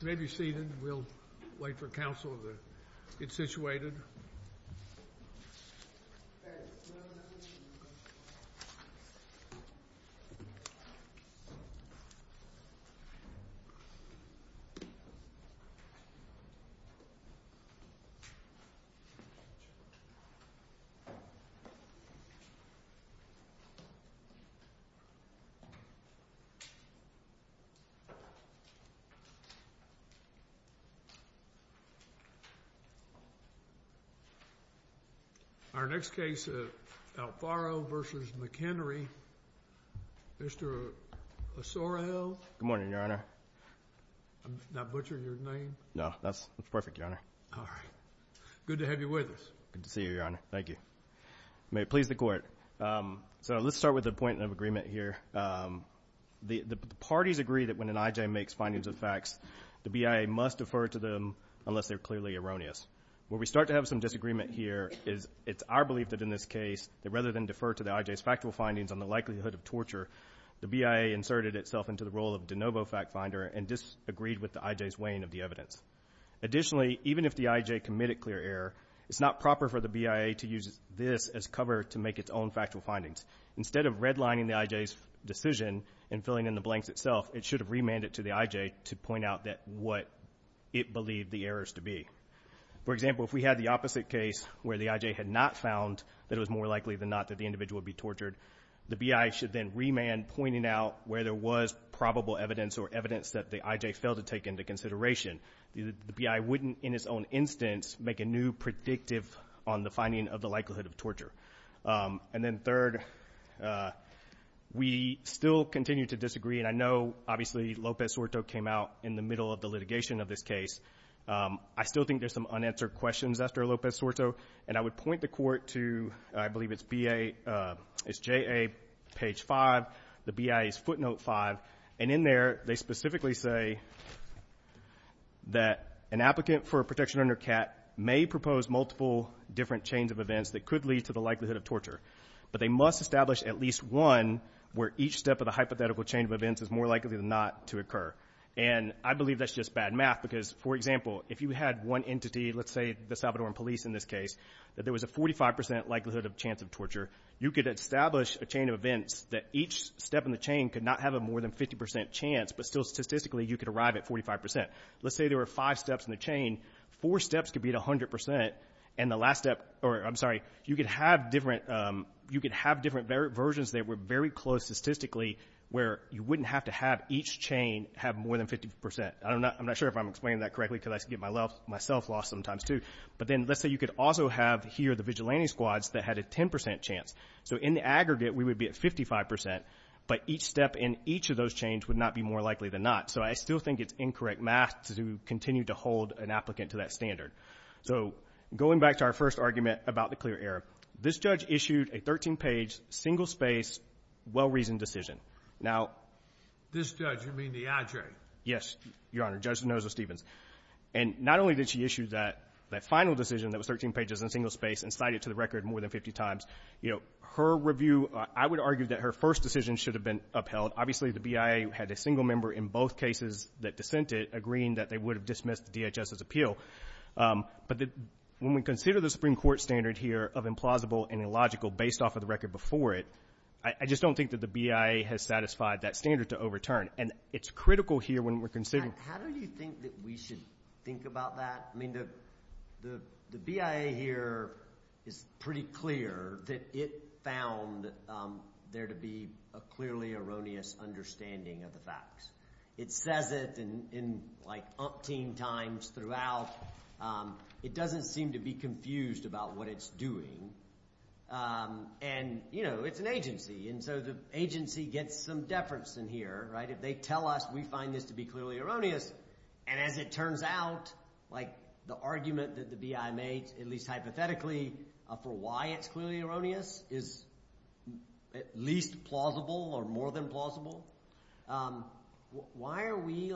You may be seated. We'll wait for counsel to get situated. Our next case is Alfaro v. McHenry. Mr. Ossorio, I'm not butchering your name? No, that's perfect, Your Honor. All right. Good to have you with us. Good to see you, Your Honor. Thank you. You may please the court. So let's start with the point of agreement here. The parties agree that when an I.J. makes findings of facts, the BIA must defer to them unless they're clearly erroneous. Where we start to have some disagreement here is it's our belief that in this case, that rather than defer to the I.J.'s factual findings on the likelihood of torture, the BIA inserted itself into the role of de novo fact finder and disagreed with the I.J.'s weighing of the evidence. Additionally, even if the I.J. committed clear error, it's not proper for the BIA to use this as cover to make its own factual findings. Instead of redlining the I.J.'s decision and filling in the blanks itself, it should have remanded to the I.J. to point out what it believed the errors to be. For example, if we had the opposite case where the I.J. had not found that it was more likely than not that the individual would be tortured, the B.I. should then remand pointing out where there was probable evidence or evidence that the I.J. failed to take into consideration. The B.I. wouldn't in its own instance make a new predictive on the finding of the likelihood of torture. And then third, we still continue to disagree, and I know obviously Lopez-Sorto came out in the middle of the litigation of this case. I still think there's some unanswered questions after Lopez-Sorto, and I would point the court to, I believe it's B.A. It's J.A. page 5, the B.I.'s footnote 5, and in there they specifically say that an applicant for a protection under CAT may propose multiple different chains of events that could lead to the likelihood of torture, but they must establish at least one where each step of the hypothetical chain of events is more likely than not to occur. And I believe that's just bad math because, for example, if you had one entity, let's say the Salvadoran police in this case, that there was a 45% likelihood of chance of torture, you could establish a chain of events that each step in the chain could not have a more than 50% chance, but still statistically you could arrive at 45%. Let's say there were five steps in the chain. Four steps could be at 100%, and the last step, or I'm sorry, you could have different versions that were very close statistically where you wouldn't have to have each chain have more than 50%. I'm not sure if I'm explaining that correctly because I get myself lost sometimes too. But then let's say you could also have here the vigilante squads that had a 10% chance. So in the aggregate we would be at 55%, but each step in each of those chains would not be more likely than not. So I still think it's incorrect math to continue to hold an applicant to that standard. So going back to our first argument about the clear error, this judge issued a 13-page, single-space, well-reasoned decision. This judge, you mean the adjunct? Yes, Your Honor, Judge Noza-Stevens. And not only did she issue that final decision that was 13 pages and single-space and cite it to the record more than 50 times, her review, I would argue that her first decision should have been upheld. Obviously the BIA had a single member in both cases that dissented, agreeing that they would have dismissed the DHS's appeal. But when we consider the Supreme Court standard here of implausible and illogical based off of the record before it, I just don't think that the BIA has satisfied that standard to overturn. And it's critical here when we're considering— How do you think that we should think about that? The BIA here is pretty clear that it found there to be a clearly erroneous understanding of the facts. It says it in umpteen times throughout. It doesn't seem to be confused about what it's doing. And it's an agency, and so the agency gets some deference in here. If they tell us we find this to be clearly erroneous, and as it turns out, the argument that the BIA made, at least hypothetically, for why it's clearly erroneous is at least plausible or more than plausible, why are we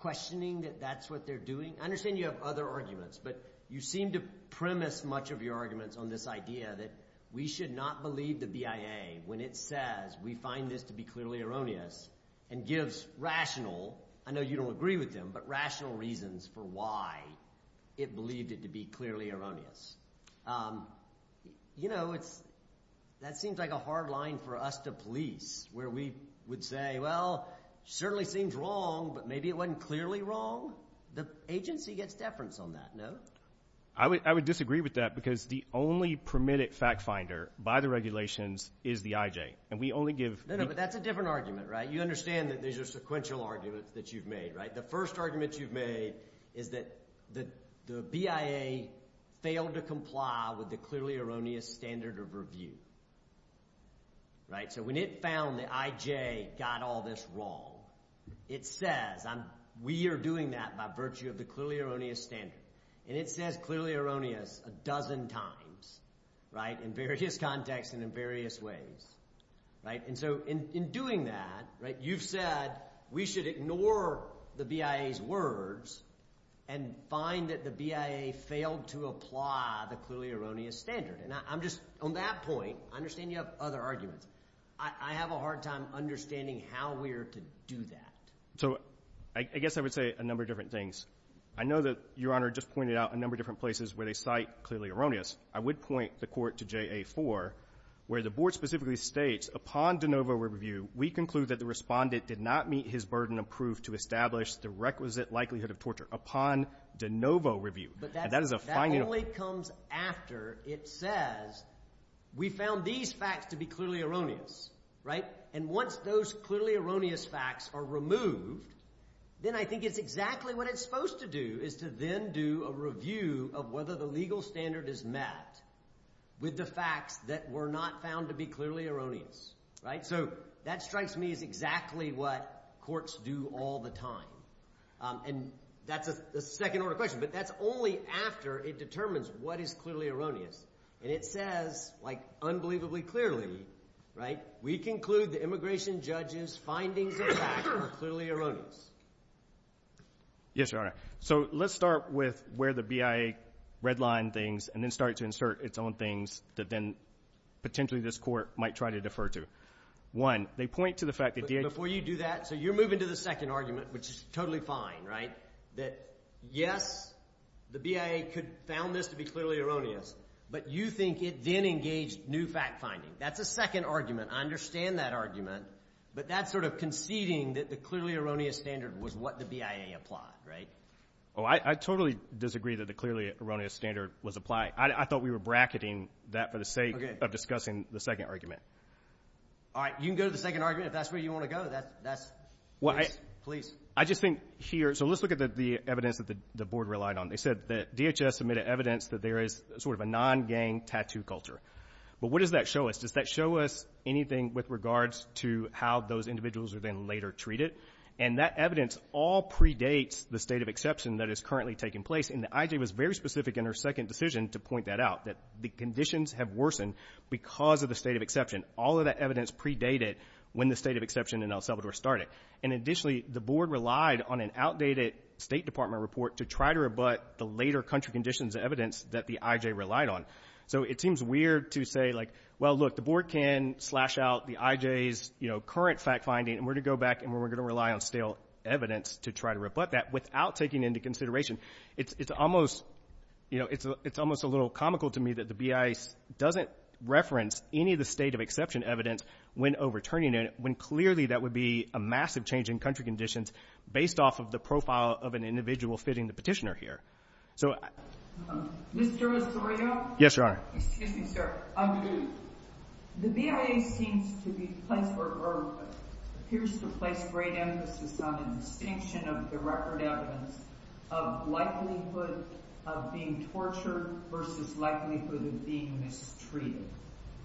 questioning that that's what they're doing? I understand you have other arguments, but you seem to premise much of your arguments on this idea that we should not believe the BIA when it says we find this to be clearly erroneous and gives rational— I know you don't agree with them, but rational reasons for why it believed it to be clearly erroneous. You know, that seems like a hard line for us to police where we would say, well, it certainly seems wrong, but maybe it wasn't clearly wrong. The agency gets deference on that, no? I would disagree with that because the only permitted fact finder by the regulations is the IJ, and we only give— No, no, but that's a different argument, right? You understand that these are sequential arguments that you've made, right? The first argument you've made is that the BIA failed to comply with the clearly erroneous standard of review, right? So when it found the IJ got all this wrong, it says we are doing that by virtue of the clearly erroneous standard, and it says clearly erroneous a dozen times, right, in various contexts and in various ways, right? And so in doing that, right, you've said we should ignore the BIA's words and find that the BIA failed to apply the clearly erroneous standard. And I'm just—on that point, I understand you have other arguments. I have a hard time understanding how we are to do that. So I guess I would say a number of different things. I know that Your Honor just pointed out a number of different places where they cite clearly erroneous. I would point the court to JA-4, where the board specifically states, upon de novo review, we conclude that the respondent did not meet his burden of proof to establish the requisite likelihood of torture upon de novo review. But that only comes after it says we found these facts to be clearly erroneous, right? And once those clearly erroneous facts are removed, then I think it's exactly what it's supposed to do is to then do a review of whether the legal standard is met with the facts that were not found to be clearly erroneous, right? So that strikes me as exactly what courts do all the time. And that's a second-order question, but that's only after it determines what is clearly erroneous. And it says, like unbelievably clearly, right, we conclude the immigration judge's findings of fact are clearly erroneous. Yes, Your Honor. So let's start with where the BIA redlined things and then start to insert its own things that then potentially this court might try to defer to. One, they point to the fact that DA- Before you do that, so you're moving to the second argument, which is totally fine, right, that, yes, the BIA found this to be clearly erroneous, but you think it then engaged new fact-finding. That's a second argument. I understand that argument. But that's sort of conceding that the clearly erroneous standard was what the BIA applied, right? Oh, I totally disagree that the clearly erroneous standard was applied. I thought we were bracketing that for the sake of discussing the second argument. All right. You can go to the second argument if that's where you want to go. That's- Well, I- Please. I just think here- So let's look at the evidence that the board relied on. They said that DHS submitted evidence that there is sort of a non-gang tattoo culture. But what does that show us? Does that show us anything with regards to how those individuals are then later treated? And that evidence all predates the state of exception that is currently taking place. And the I.J. was very specific in her second decision to point that out, that the conditions have worsened because of the state of exception. All of that evidence predated when the state of exception in El Salvador started. And, additionally, the board relied on an outdated State Department report to try to rebut the later country conditions evidence that the I.J. relied on. So it seems weird to say, like, well, look, the board can slash out the I.J.'s current fact finding and we're going to go back and we're going to rely on stale evidence to try to rebut that without taking into consideration. It's almost a little comical to me that the B.I. doesn't reference any of the state of exception evidence when overturning it when clearly that would be a massive change in country conditions based off of the profile of an individual fitting the petitioner here. So- Mr. Osorio? Yes, Your Honor. Excuse me, sir. The BIA seems to be placed or appears to place great emphasis on a distinction of the record evidence of likelihood of being tortured versus likelihood of being mistreated.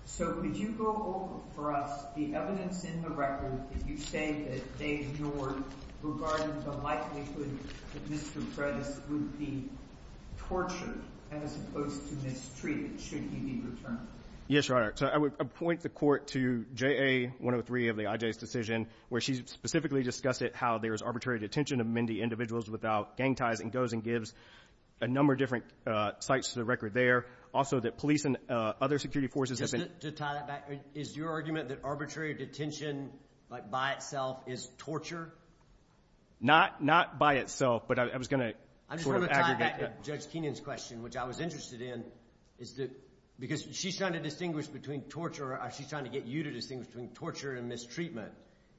So could you go over for us the evidence in the record that you say that they ignored regarding the likelihood that Mr. Fredis would be tortured as opposed to mistreated should he be returned? Yes, Your Honor. So I would point the Court to JA-103 of the I.J.'s decision where she specifically discussed it, how there is arbitrary detention of Mindy individuals without gang ties and goes and gives a number of different sites to the record there. Also that police and other security forces- Is your argument that arbitrary detention by itself is torture? Not by itself, but I was going to sort of aggregate- I just want to tie back to Judge Keenan's question, which I was interested in, because she's trying to distinguish between torture or she's trying to get you to distinguish between torture and mistreatment.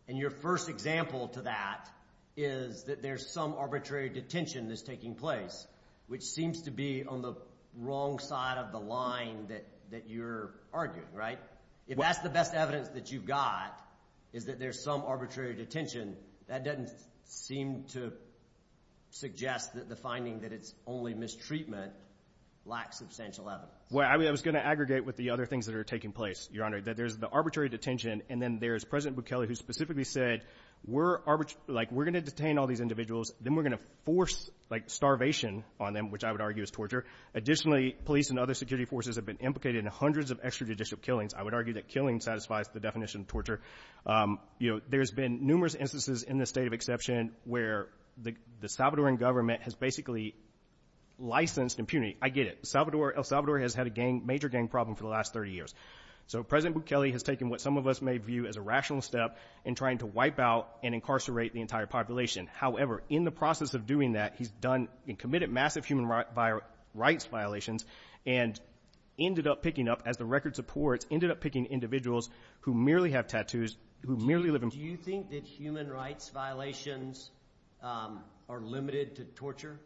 And your first example to that is that there's some arbitrary detention that's taking place, which seems to be on the wrong side of the line that you're arguing, right? If that's the best evidence that you've got is that there's some arbitrary detention, that doesn't seem to suggest that the finding that it's only mistreatment lacks substantial evidence. Well, I was going to aggregate with the other things that are taking place, Your Honor, that there's the arbitrary detention and then there's President Bukele who specifically said, we're going to detain all these individuals, then we're going to force starvation on them, which I would argue is torture. Additionally, police and other security forces have been implicated in hundreds of extrajudicial killings. I would argue that killing satisfies the definition of torture. There's been numerous instances in this state of exception where the Salvadoran government has basically licensed impunity. I get it. El Salvador has had a major gang problem for the last 30 years. So President Bukele has taken what some of us may view as a rational step in trying to wipe out and incarcerate the entire population. However, in the process of doing that, he's done and committed massive human rights violations and ended up picking up, as the record supports, ended up picking individuals who merely have tattoos, who merely live in – Do you think that human rights violations are limited to torture?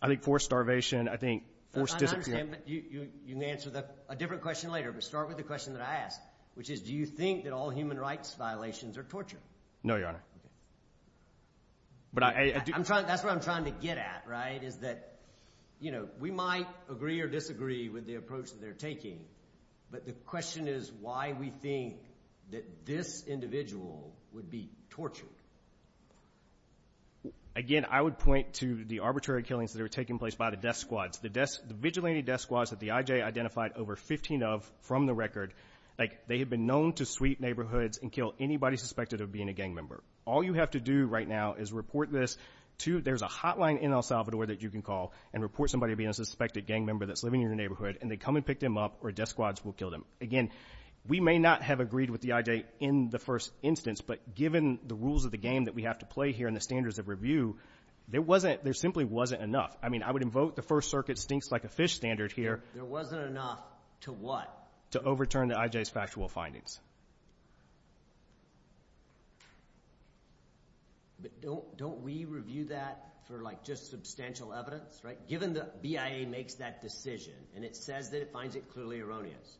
I think forced starvation, I think forced – You can answer a different question later, but start with the question that I asked, which is do you think that all human rights violations are torture? No, Your Honor. That's what I'm trying to get at, right, is that we might agree or disagree with the approach that they're taking, but the question is why we think that this individual would be tortured. Again, I would point to the arbitrary killings that are taking place by the death squads. The vigilante death squads that the I.J. identified over 15 of from the record, they have been known to sweep neighborhoods and kill anybody suspected of being a gang member. All you have to do right now is report this to – There's a hotline in El Salvador that you can call and report somebody being a suspected gang member that's living in your neighborhood, and they come and pick them up, or death squads will kill them. Again, we may not have agreed with the I.J. in the first instance, but given the rules of the game that we have to play here and the standards of review, there simply wasn't enough. I mean, I would invoke the First Circuit stinks like a fish standard here. There wasn't enough to what? To overturn the I.J.'s factual findings. But don't we review that for, like, just substantial evidence, right? Given the BIA makes that decision and it says that it finds it clearly erroneous,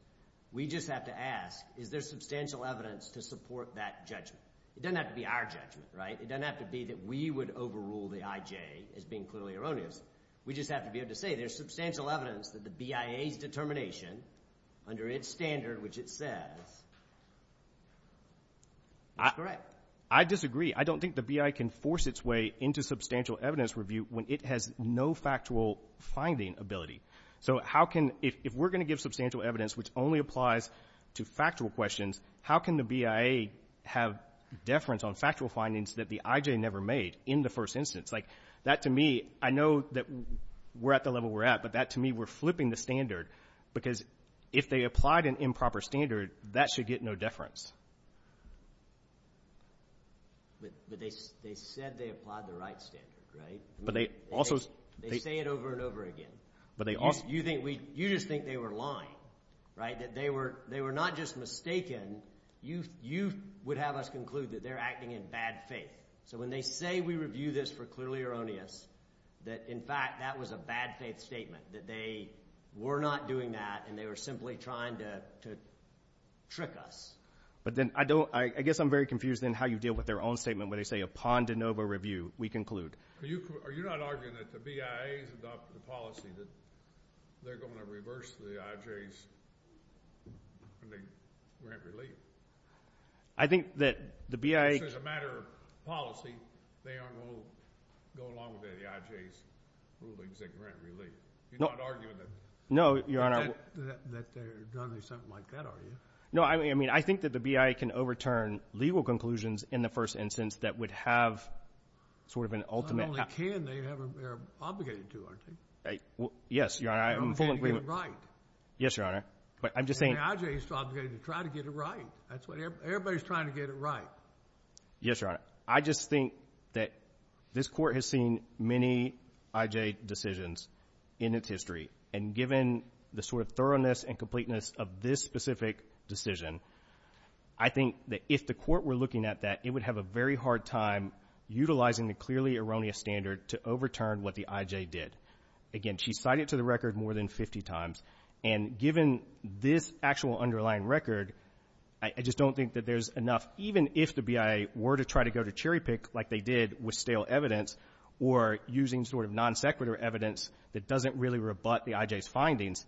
we just have to ask, is there substantial evidence to support that judgment? It doesn't have to be our judgment, right? It doesn't have to be that we would overrule the I.J. as being clearly erroneous. We just have to be able to say there's substantial evidence that the BIA's determination, under its standard which it says, is correct. I disagree. I don't think the BIA can force its way into substantial evidence review when it has no factual finding ability. So how can – if we're going to give substantial evidence which only applies to factual questions, how can the BIA have deference on factual findings that the I.J. never made in the first instance? Like, that to me – I know that we're at the level we're at, but that to me we're flipping the standard because if they applied an improper standard, that should get no deference. But they said they applied the right standard, right? But they also – They say it over and over again. You just think they were lying, right? That they were not just mistaken. You would have us conclude that they're acting in bad faith. So when they say we review this for clearly erroneous, that, in fact, that was a bad faith statement, that they were not doing that and they were simply trying to trick us. But then I don't – I guess I'm very confused in how you deal with their own statement when they say upon de novo review, we conclude. Are you not arguing that the BIA has adopted a policy that they're going to reverse the I.J.'s grant relief? I think that the BIA – This is a matter of policy. They aren't going to go along with the I.J.'s rulings that grant relief. You're not arguing that – No, Your Honor. That they're doing something like that, are you? No, I mean I think that the BIA can overturn legal conclusions in the first instance that would have sort of an ultimate – Not only can, they're obligated to, aren't they? Yes, Your Honor. They're obligated to get it right. Yes, Your Honor. But I'm just saying – The I.J. is obligated to try to get it right. Everybody's trying to get it right. Yes, Your Honor. I just think that this Court has seen many I.J. decisions in its history, and given the sort of thoroughness and completeness of this specific decision, I think that if the Court were looking at that, it would have a very hard time utilizing the clearly erroneous standard to overturn what the I.J. did. Again, she cited it to the record more than 50 times, and given this actual underlying record, I just don't think that there's enough – Even if the BIA were to try to go to cherry-pick like they did with stale evidence or using sort of non-sequitur evidence that doesn't really rebut the I.J.'s findings,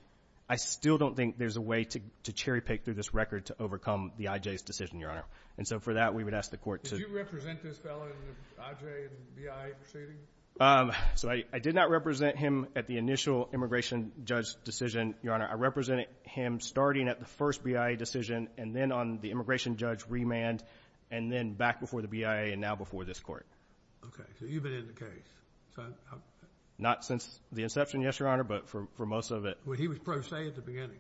I still don't think there's a way to cherry-pick through this record to overcome the I.J.'s decision, Your Honor. And so for that, we would ask the Court to – Did you represent this fellow in the I.J. and BIA proceedings? So I did not represent him at the initial immigration judge decision, Your Honor. I represented him starting at the first BIA decision and then on the immigration judge remand and then back before the BIA and now before this Court. Okay. So you've been in the case. Not since the inception, yes, Your Honor, but for most of it. Well, he was pro se at the beginning.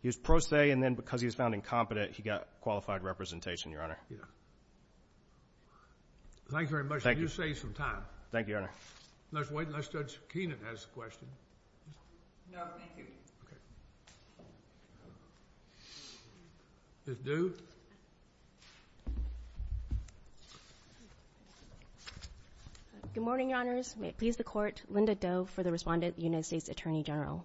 He was pro se and then because he was found incompetent, he got qualified representation, Your Honor. Yeah. Thank you very much. I do save some time. Thank you, Your Honor. Let's wait and let Judge Kenan ask the question. No, thank you. Okay. Ms. Du? Good morning, Your Honors. May it please the Court, Linda Doe for the respondent, the United States Attorney General.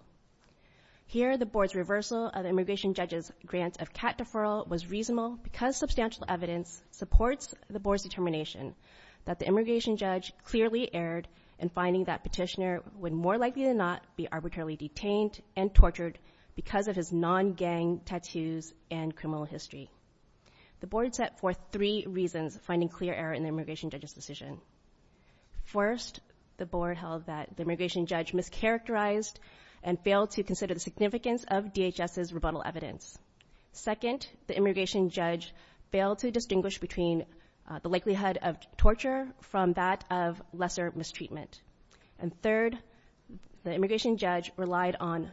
Here, the Board's reversal of the immigration judge's grant of CAT deferral was reasonable because substantial evidence supports the Board's determination that the immigration judge clearly erred in finding that petitioner would more likely than not be arbitrarily detained and tortured because of his non-gang tattoos and criminal history. The Board set forth three reasons finding clear error in the immigration judge's decision. First, the Board held that the immigration judge mischaracterized and failed to consider the significance of DHS's rebuttal evidence. Second, the immigration judge failed to distinguish between the likelihood of torture from that of lesser mistreatment. And third, the immigration judge relied on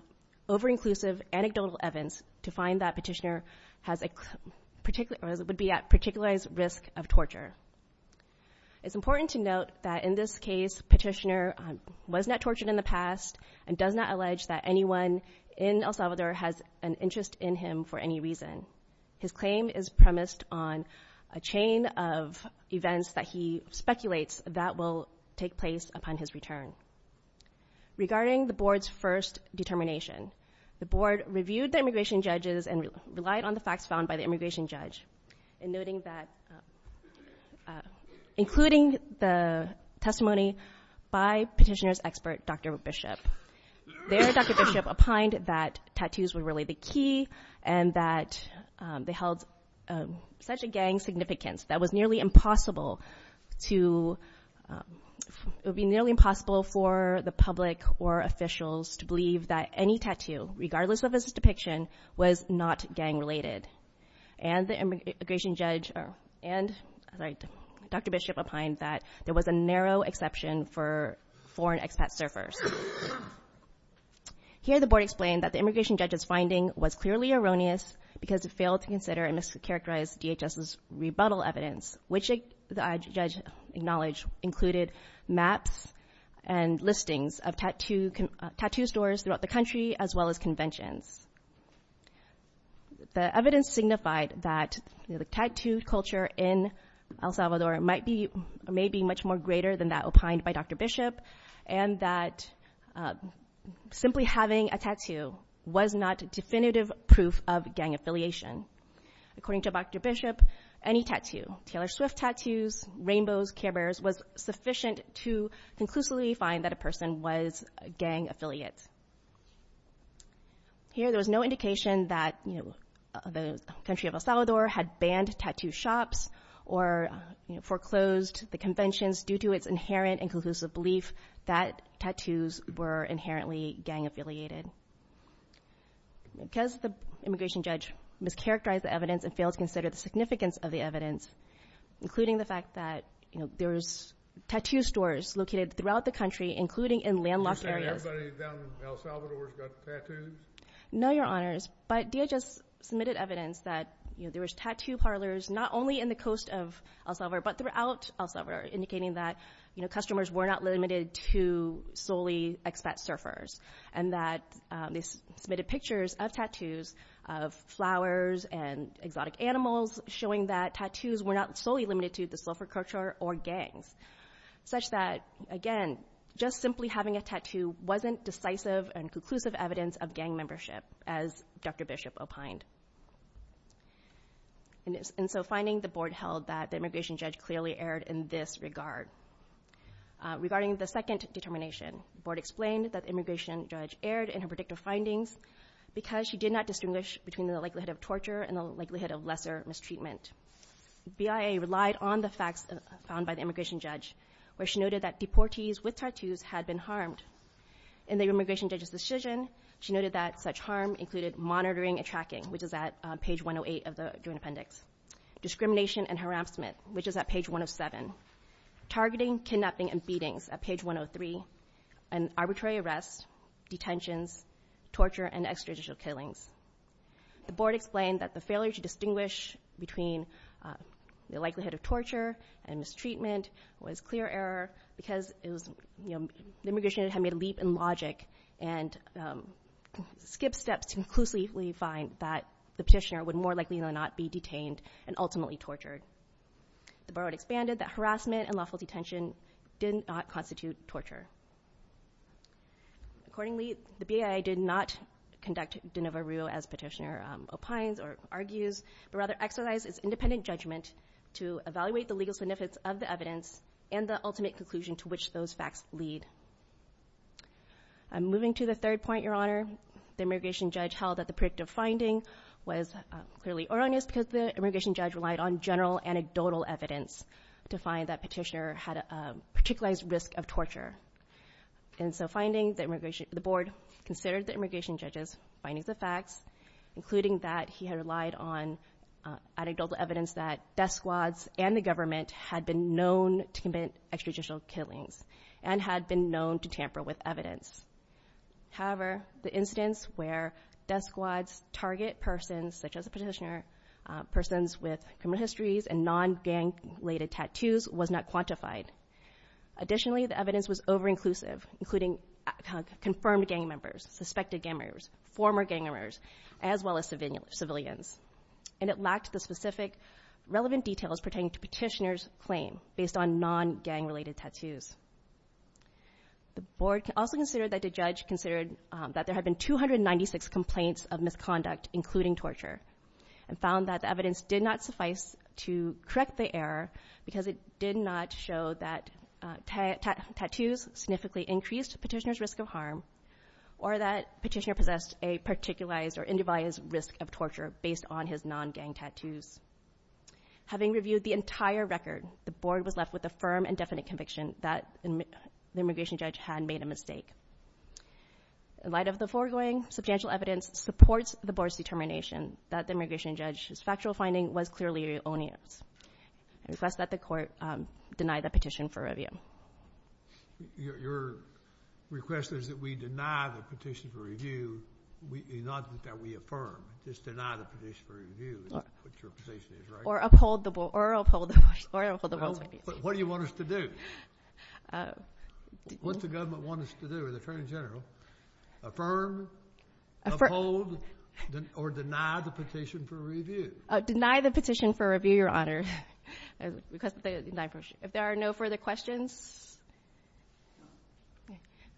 over-inclusive anecdotal evidence to find that petitioner would be at particularized risk of torture. It's important to note that in this case, petitioner was not tortured in the past and does not allege that anyone in El Salvador has an interest in him for any reason. His claim is premised on a chain of events that he speculates that will take place upon his return. Regarding the Board's first determination, the Board reviewed the immigration judge's and relied on the facts found by the immigration judge in noting that, including the testimony by petitioner's expert, Dr. Bishop. There, Dr. Bishop opined that tattoos were really the key and that they held such a gang significance that it would be nearly impossible for the public or officials to believe that any tattoo, regardless of its depiction, was not gang-related. And Dr. Bishop opined that there was a narrow exception for foreign expat surfers. Here, the Board explained that the immigration judge's finding was clearly erroneous because it failed to consider and mischaracterize DHS's rebuttal evidence, which the judge acknowledged included maps and listings of tattoo stores throughout the country as well as conventions. The evidence signified that the tattoo culture in El Salvador may be much more greater than that opined by Dr. Bishop and that simply having a tattoo was not definitive proof of gang affiliation. According to Dr. Bishop, any tattoo, Taylor Swift tattoos, rainbows, carebears, was sufficient to conclusively find that a person was a gang affiliate. Here, there was no indication that the country of El Salvador had banned tattoo shops or foreclosed the conventions due to its inherent and conclusive belief that tattoos were inherently gang-affiliated. Because the immigration judge mischaracterized the evidence and failed to consider the significance of the evidence, including the fact that there's tattoo stores located throughout the country, including in landlocked areas. You're saying everybody down in El Salvador has got tattoos? No, Your Honors, but DHS submitted evidence that there was tattoo parlors not only in the coast of El Salvador but throughout El Salvador indicating that customers were not limited to solely expat surfers and that they submitted pictures of tattoos of flowers and exotic animals showing that tattoos were not solely limited to the surfer culture or gangs, such that, again, just simply having a tattoo wasn't decisive and conclusive evidence of gang membership, as Dr. Bishop opined. And so finding the board held that the immigration judge clearly erred in this regard. Regarding the second determination, the board explained that the immigration judge erred in her predictive findings because she did not distinguish between the likelihood of torture and the likelihood of lesser mistreatment. BIA relied on the facts found by the immigration judge where she noted that deportees with tattoos had been harmed. In the immigration judge's decision, she noted that such harm included monitoring and tracking, which is at page 108 of the Joint Appendix, discrimination and harassment, which is at page 107, targeting, kidnapping, and beatings at page 103, and arbitrary arrests, detentions, torture, and extrajudicial killings. The board explained that the failure to distinguish between the likelihood of torture and mistreatment was clear error because the immigration judge had made a leap in logic and skipped steps to conclusively find that the petitioner would more likely than not be detained and ultimately tortured. The board expanded that harassment and lawful detention did not constitute torture. Accordingly, the BIA did not conduct de novo rue as petitioner opines or argues, but rather exercised its independent judgment to evaluate the legal significance of the evidence and the ultimate conclusion to which those facts lead. Moving to the third point, Your Honor, the immigration judge held that the predictive finding was clearly erroneous because the immigration judge relied on general anecdotal evidence to find that petitioner had a particular risk of torture. And so the board considered the immigration judge's findings of facts, including that he had relied on anecdotal evidence that death squads and the government had been known to commit extrajudicial killings and had been known to tamper with evidence. However, the incidents where death squads target persons such as the petitioner, persons with criminal histories, and non-gang-related tattoos was not quantified. Additionally, the evidence was over-inclusive, including confirmed gang members, suspected gang members, former gang members, as well as civilians. And it lacked the specific relevant details pertaining to petitioner's claim based on non-gang-related tattoos. The board also considered that the judge considered that there had been 296 complaints of misconduct, including torture, and found that the evidence did not suffice to correct the error because it did not show that tattoos significantly increased petitioner's risk of harm or that petitioner possessed a particularized or individualized risk of torture based on his non-gang tattoos. Having reviewed the entire record, the board was left with a firm and definite conviction that the immigration judge had made a mistake. In light of the foregoing, substantial evidence supports the board's determination that the immigration judge's factual finding was clearly erroneous. I request that the court deny the petition for review. Your request is that we deny the petition for review, not that we affirm. Just deny the petition for review is what your position is, right? Or uphold the board's position. What do you want us to do? What the government wants us to do is affirm, uphold, or deny the petition for review. Deny the petition for review, Your Honor. If there are no further questions.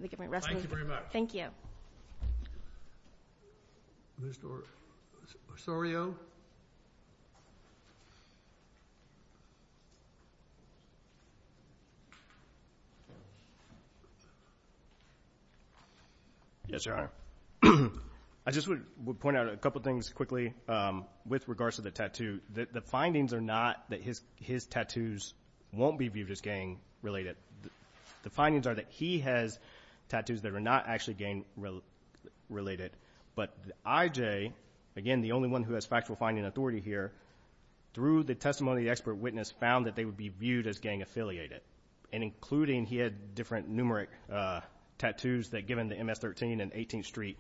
Thank you very much. Thank you. Ms. Osorio? Yes, Your Honor. I just would point out a couple things quickly with regards to the tattoo. The findings are not that his tattoos won't be viewed as gang-related. The findings are that he has tattoos that are not actually gang-related, but I.J., again, the only one who has factual finding authority here, through the testimony of the expert witness found that they would be viewed as gang-affiliated and including he had different numeric tattoos that given the MS-13 and 18th Street,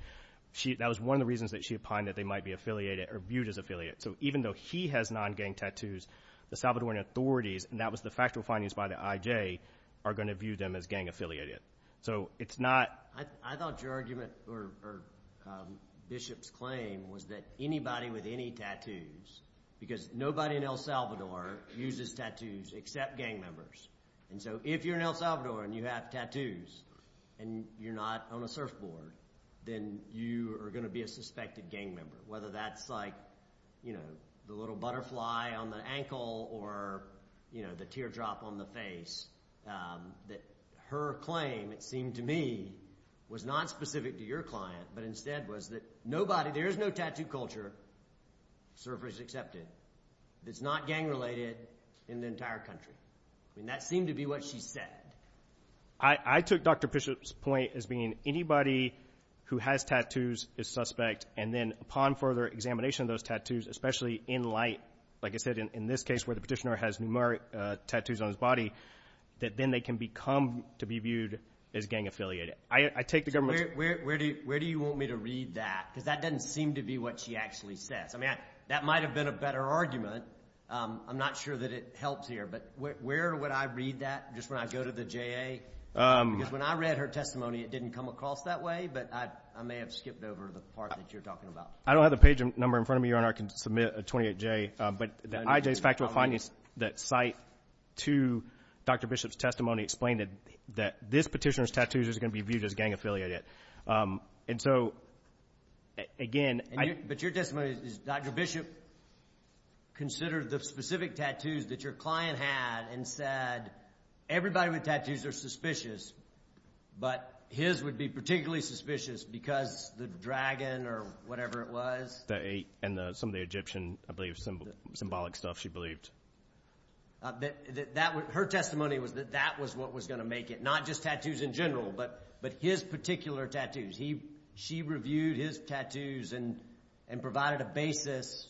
that was one of the reasons that she opined that they might be affiliated or viewed as affiliated. So even though he has non-gang tattoos, the Salvadoran authorities, and that was the factual findings by the I.J., are going to view them as gang-affiliated. So it's not. I thought your argument or Bishop's claim was that anybody with any tattoos, because nobody in El Salvador uses tattoos except gang members, and so if you're in El Salvador and you have tattoos and you're not on a surfboard, then you are going to be a suspected gang member, whether that's like the little butterfly on the ankle or the teardrop on the face. Her claim, it seemed to me, was not specific to your client, but instead was that nobody, there is no tattoo culture, surface accepted, that's not gang-related in the entire country. I mean, that seemed to be what she said. I took Dr. Bishop's point as being anybody who has tattoos is suspect, and then upon further examination of those tattoos, especially in light, like I said, in this case where the petitioner has numeric tattoos on his body, that then they can become to be viewed as gang-affiliated. So where do you want me to read that? Because that doesn't seem to be what she actually says. I mean, that might have been a better argument. I'm not sure that it helps here, but where would I read that just when I go to the JA? Because when I read her testimony, it didn't come across that way, but I may have skipped over the part that you're talking about. I don't have the page number in front of me, Your Honor. I can submit a 28J. But the IJ's factual findings that cite to Dr. Bishop's testimony explain that this petitioner's tattoos is going to be viewed as gang-affiliated. And so, again— But your testimony is Dr. Bishop considered the specific tattoos that your client had and said everybody with tattoos are suspicious, but his would be particularly suspicious because the dragon or whatever it was. And some of the Egyptian, I believe, symbolic stuff she believed. Her testimony was that that was what was going to make it, not just tattoos in general, but his particular tattoos. She reviewed his tattoos and provided a basis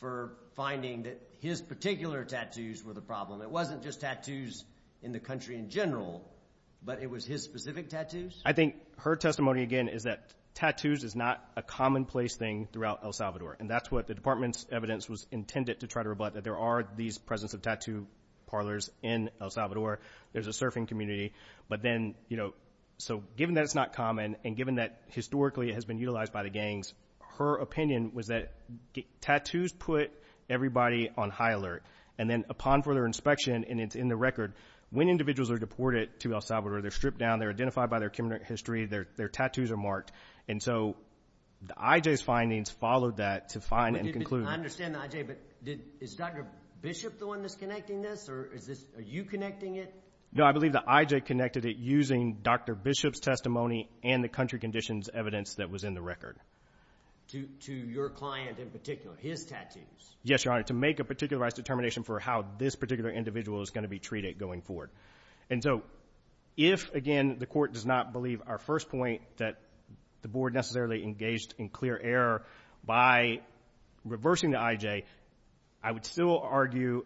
for finding that his particular tattoos were the problem. It wasn't just tattoos in the country in general, but it was his specific tattoos? I think her testimony, again, is that tattoos is not a commonplace thing throughout El Salvador, and that's what the department's evidence was intended to try to rebut, that there are these presence of tattoo parlors in El Salvador. There's a surfing community. But then, you know, so given that it's not common and given that historically it has been utilized by the gangs, her opinion was that tattoos put everybody on high alert. And then upon further inspection, and it's in the record, when individuals are deported to El Salvador, they're stripped down, they're identified by their criminal history, their tattoos are marked. And so the IJ's findings followed that to find and conclude. I understand the IJ, but is Dr. Bishop the one that's connecting this, or are you connecting it? No, I believe the IJ connected it using Dr. Bishop's testimony and the country conditions evidence that was in the record. To your client in particular, his tattoos? Yes, Your Honor, to make a particularized determination for how this particular individual is going to be treated going forward. And so if, again, the court does not believe our first point that the board necessarily engaged in clear error by reversing the IJ, I would still argue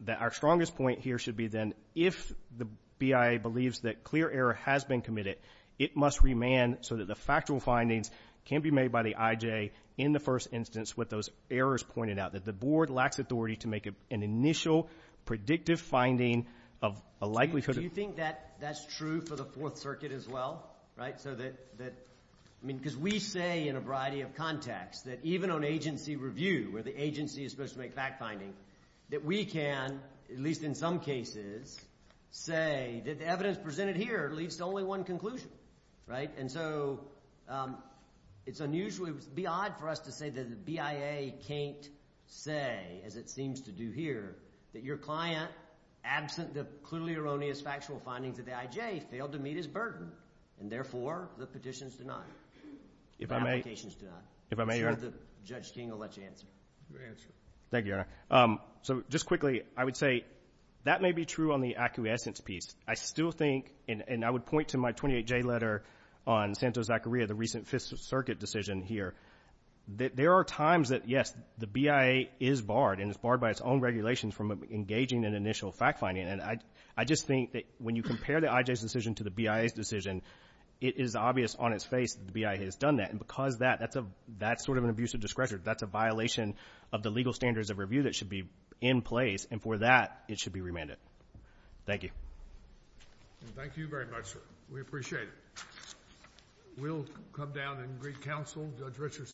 that our strongest point here should be then if the BIA believes that clear error has been committed, it must remand so that the factual findings can be made by the IJ in the first instance with those errors pointed out, that the board lacks authority to make an initial predictive finding of a likelihood of... Do you think that's true for the Fourth Circuit as well? Because we say in a variety of contexts that even on agency review where the agency is supposed to make fact-finding, that we can, at least in some cases, say that the evidence presented here leads to only one conclusion. And so it's unusually odd for us to say that the BIA can't say, as it seems to do here, that your client, absent the clearly erroneous factual findings of the IJ, failed to meet his burden, and therefore the petition's denied. The application's denied. I'm sure Judge King will let you answer. Thank you, Your Honor. So just quickly, I would say that may be true on the acquiescence piece. I still think, and I would point to my 28J letter on Santos-Zacharia, the recent Fifth Circuit decision here, that there are times that, yes, the BIA is barred, and it's barred by its own regulations, from engaging in initial fact-finding. And I just think that when you compare the IJ's decision to the BIA's decision, it is obvious on its face that the BIA has done that. And because of that, that's sort of an abuse of discretion. That's a violation of the legal standards of review that should be in place, and for that, it should be remanded. Thank you. Thank you very much, sir. We appreciate it. We'll come down and greet counsel.